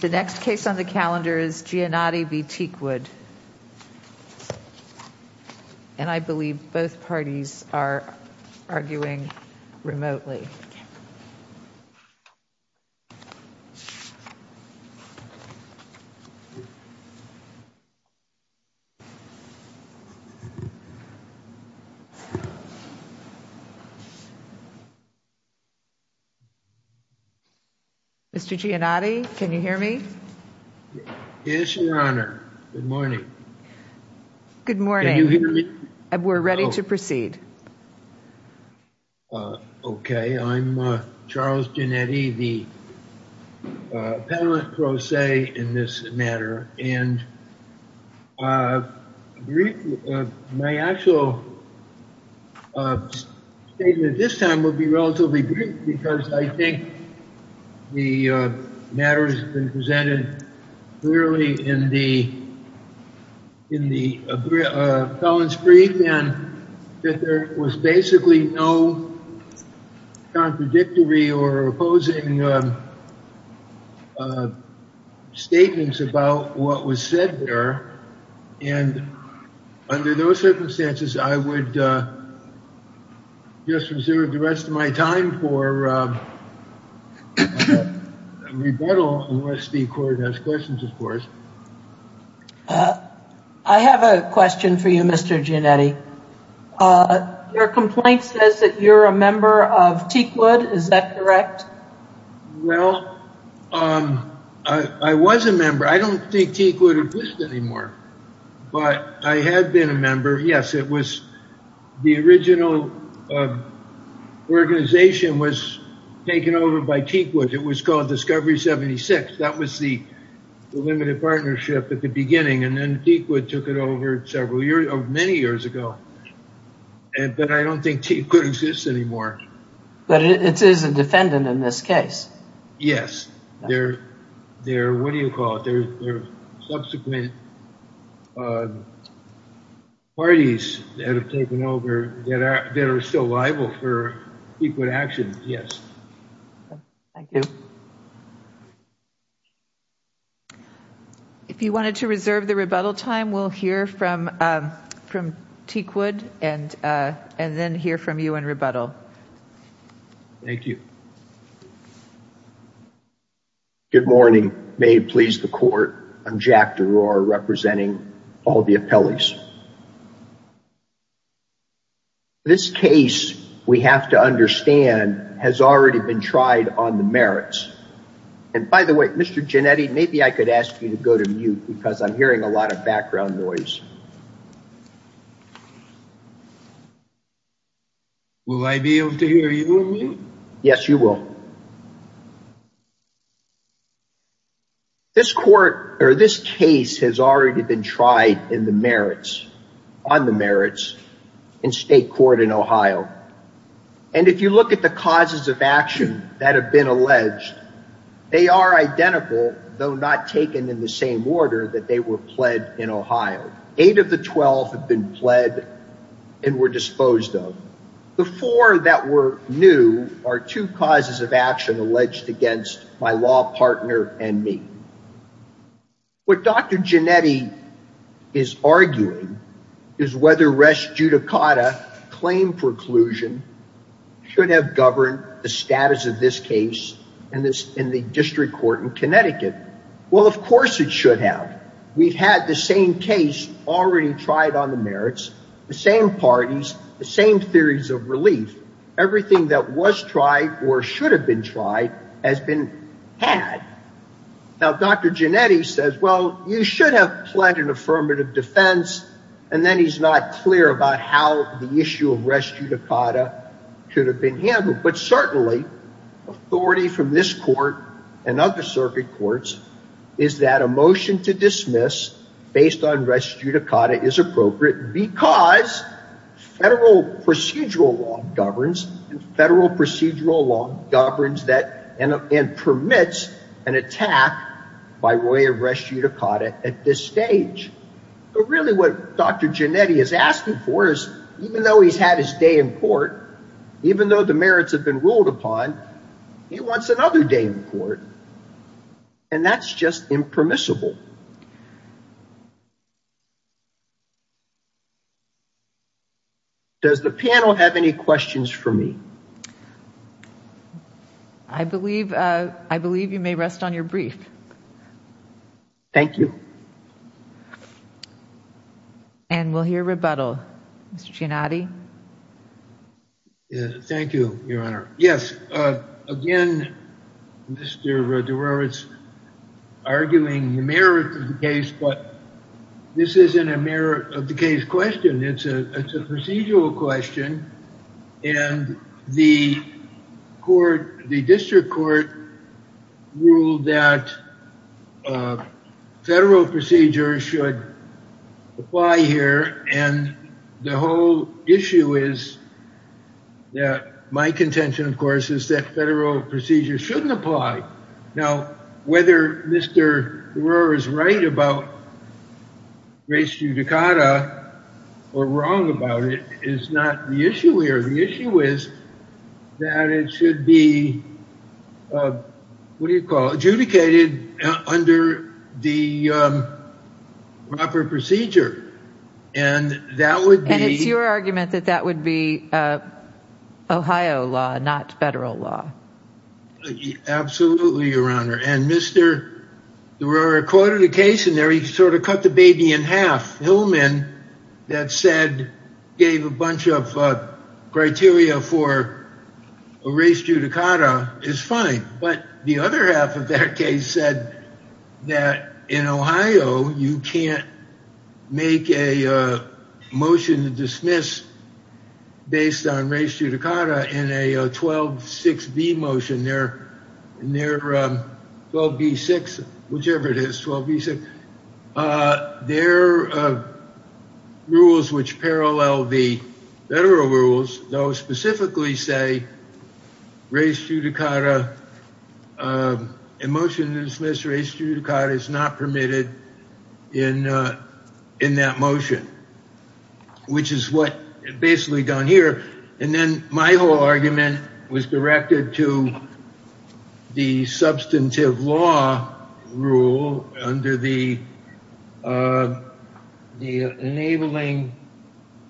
The next case on the calendar is Giannotti v. Teakwood, and I believe both parties are here. Mr. Giannotti, can you hear me? Yes, Your Honor. Good morning. Good morning. We're ready to proceed. Okay, I'm Charles Giannetti, the panelist pro se in this matter, and my actual statement this time will be relatively brief because I think the matter has been presented clearly in the felon's brief, and that there was basically no contradictory or opposing statements about what was said there, and under those circumstances, I would just reserve the rest of my time for rebuttal unless the Court has questions, of course. I have a question for you, Mr. Giannotti. Your complaint says that you're a member of Teakwood, is that correct? Well, I was a member. I don't think Teakwood exists anymore, but I had been a member. Yes, it was the original organization was taken over by Teakwood. It was called Discovery 76. That was the limited partnership at the beginning, and then Teakwood took it over several years, many years ago, but I don't think Teakwood exists anymore. But it is a defendant in this case. Yes, they're, what do you call it, they're subsequent parties that have taken over that are still liable for Teakwood actions, yes. Thank you. If you wanted to reserve the rebuttal time, we'll hear from Teakwood and then hear from you in rebuttal. Thank you. Good morning. May it please the Court. I'm Jack DeRoar, representing all the appellees. This case, we have to understand, has already been tried on the merits. And by the way, Mr. Giannotti, maybe I could ask you to go to mute because I'm hearing a noise. Will I be able to hear you? Yes, you will. This court, or this case, has already been tried in the merits, on the merits, in state court in Ohio. And if you look at the causes of action that have been alleged, they are identical, though not taken in the same order, that they were pled in Ohio. Eight of the 12 have been pled and were disposed of. The four that were new are two causes of action alleged against my law partner and me. What Dr. Giannotti is arguing is whether Res Judicata claim preclusion should have governed the status of this case in the district court in Connecticut. Well, of course it should have. We've had the same case already tried on the merits, the same parties, the same theories of relief. Everything that was tried or should have been tried has been had. Now, Dr. Giannotti says, well, you should have pled an affirmative defense. And then he's not clear about how the issue of Res Judicata should have been handled. But certainly, authority from this court and other circuit courts is that a motion to dismiss based on Res Judicata is appropriate because federal procedural law governs, federal procedural law governs that and permits an attack by way of Res Judicata at this stage. But really what Dr. Giannotti is asking for is even though he's had his day in court, even though the merits have been ruled upon, he wants another day in court. And that's just impermissible. Does the panel have any questions for me? I believe, I believe you may rest on your brief. Thank you. And we'll hear rebuttal. Mr. Giannotti. Thank you, Your Honor. Yes, again, Mr. DeRuiz arguing the merits of the case, but this isn't a merit of the case question. It's a procedural question. And the court, the district court ruled that federal procedure should apply here. And the whole issue is that my contention, of course, is that federal procedure shouldn't apply. Now, whether Mr. DeRuiz is right about Res Judicata or wrong about it is not the issue here. The issue is that it should be, what do you call it, adjudicated under the proper procedure. And that would be. And it's your argument that that would be Ohio law, not federal law. Absolutely, Your Honor. And Mr. DeRuiz recorded a case in there. He sort of cut the baby in half. Hillman, that said, gave a bunch of criteria for Res Judicata is fine. But the other half of that case said that in Ohio, you can't make a motion to dismiss based on Res Judicata in a 12-6-B motion. In their 12-B-6, whichever it is, 12-B-6. Their rules which parallel the federal rules, though, specifically say Res Judicata, a motion to dismiss Res Judicata is not permitted in that motion, which is what basically gone here. And then my whole argument was directed to the substantive law rule under the enabling,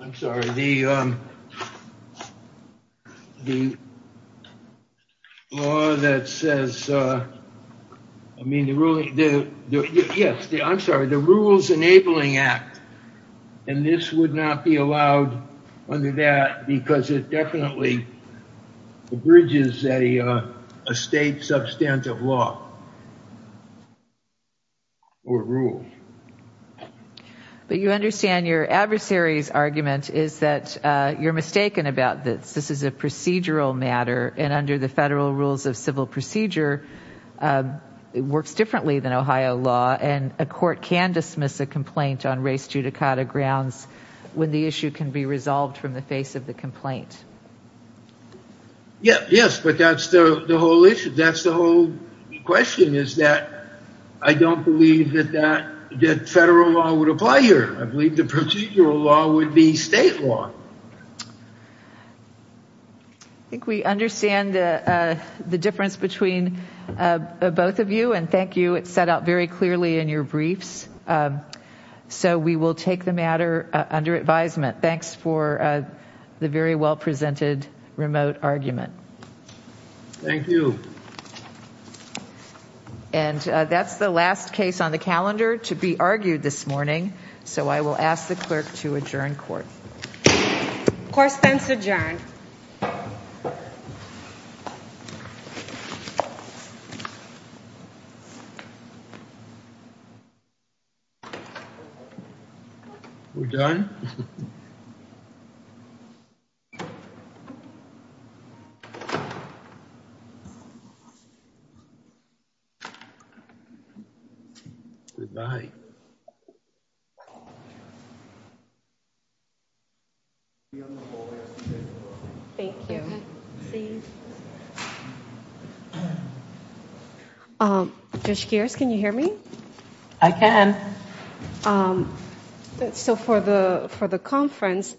I'm sorry, the law that says, I mean, the ruling, yes, I'm sorry, the Rules Enabling Act. And this would not be allowed under that because it a state substantive law or rule. But you understand your adversary's argument is that you're mistaken about this. This is a procedural matter. And under the federal rules of civil procedure, it works differently than Ohio law. And a court can dismiss a complaint on Res Judicata grounds when the issue can be resolved from the face of the complaint. Yeah, yes, but that's the whole issue. That's the whole question is that I don't believe that that that federal law would apply here. I believe the procedural law would be state law. I think we understand the difference between both of you. And thank you. It's set out very clearly in your briefs. So we will take the matter under advisement. Thanks for the very well presented remote argument. Thank you. And that's the last case on the calendar to be argued this morning. So I will ask the clerk to adjourn court. Court spends adjourned. We're done. Goodbye. Thank you. Judge Gears, can you hear me? I can. So for the for the conference,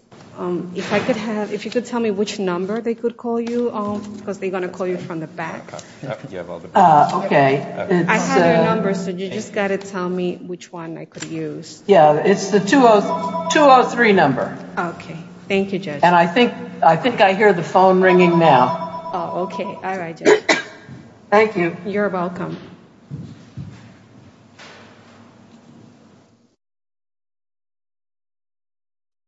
if I could have if you could tell me which number they could call you on because they're going to call you from the back. Okay. I have a number. So you just got to tell me which one I could use. Yeah, it's the 203 number. Okay. Thank you, Judge. And I think I think I hear the phone ringing now. Okay. All right. Thank you. You're welcome.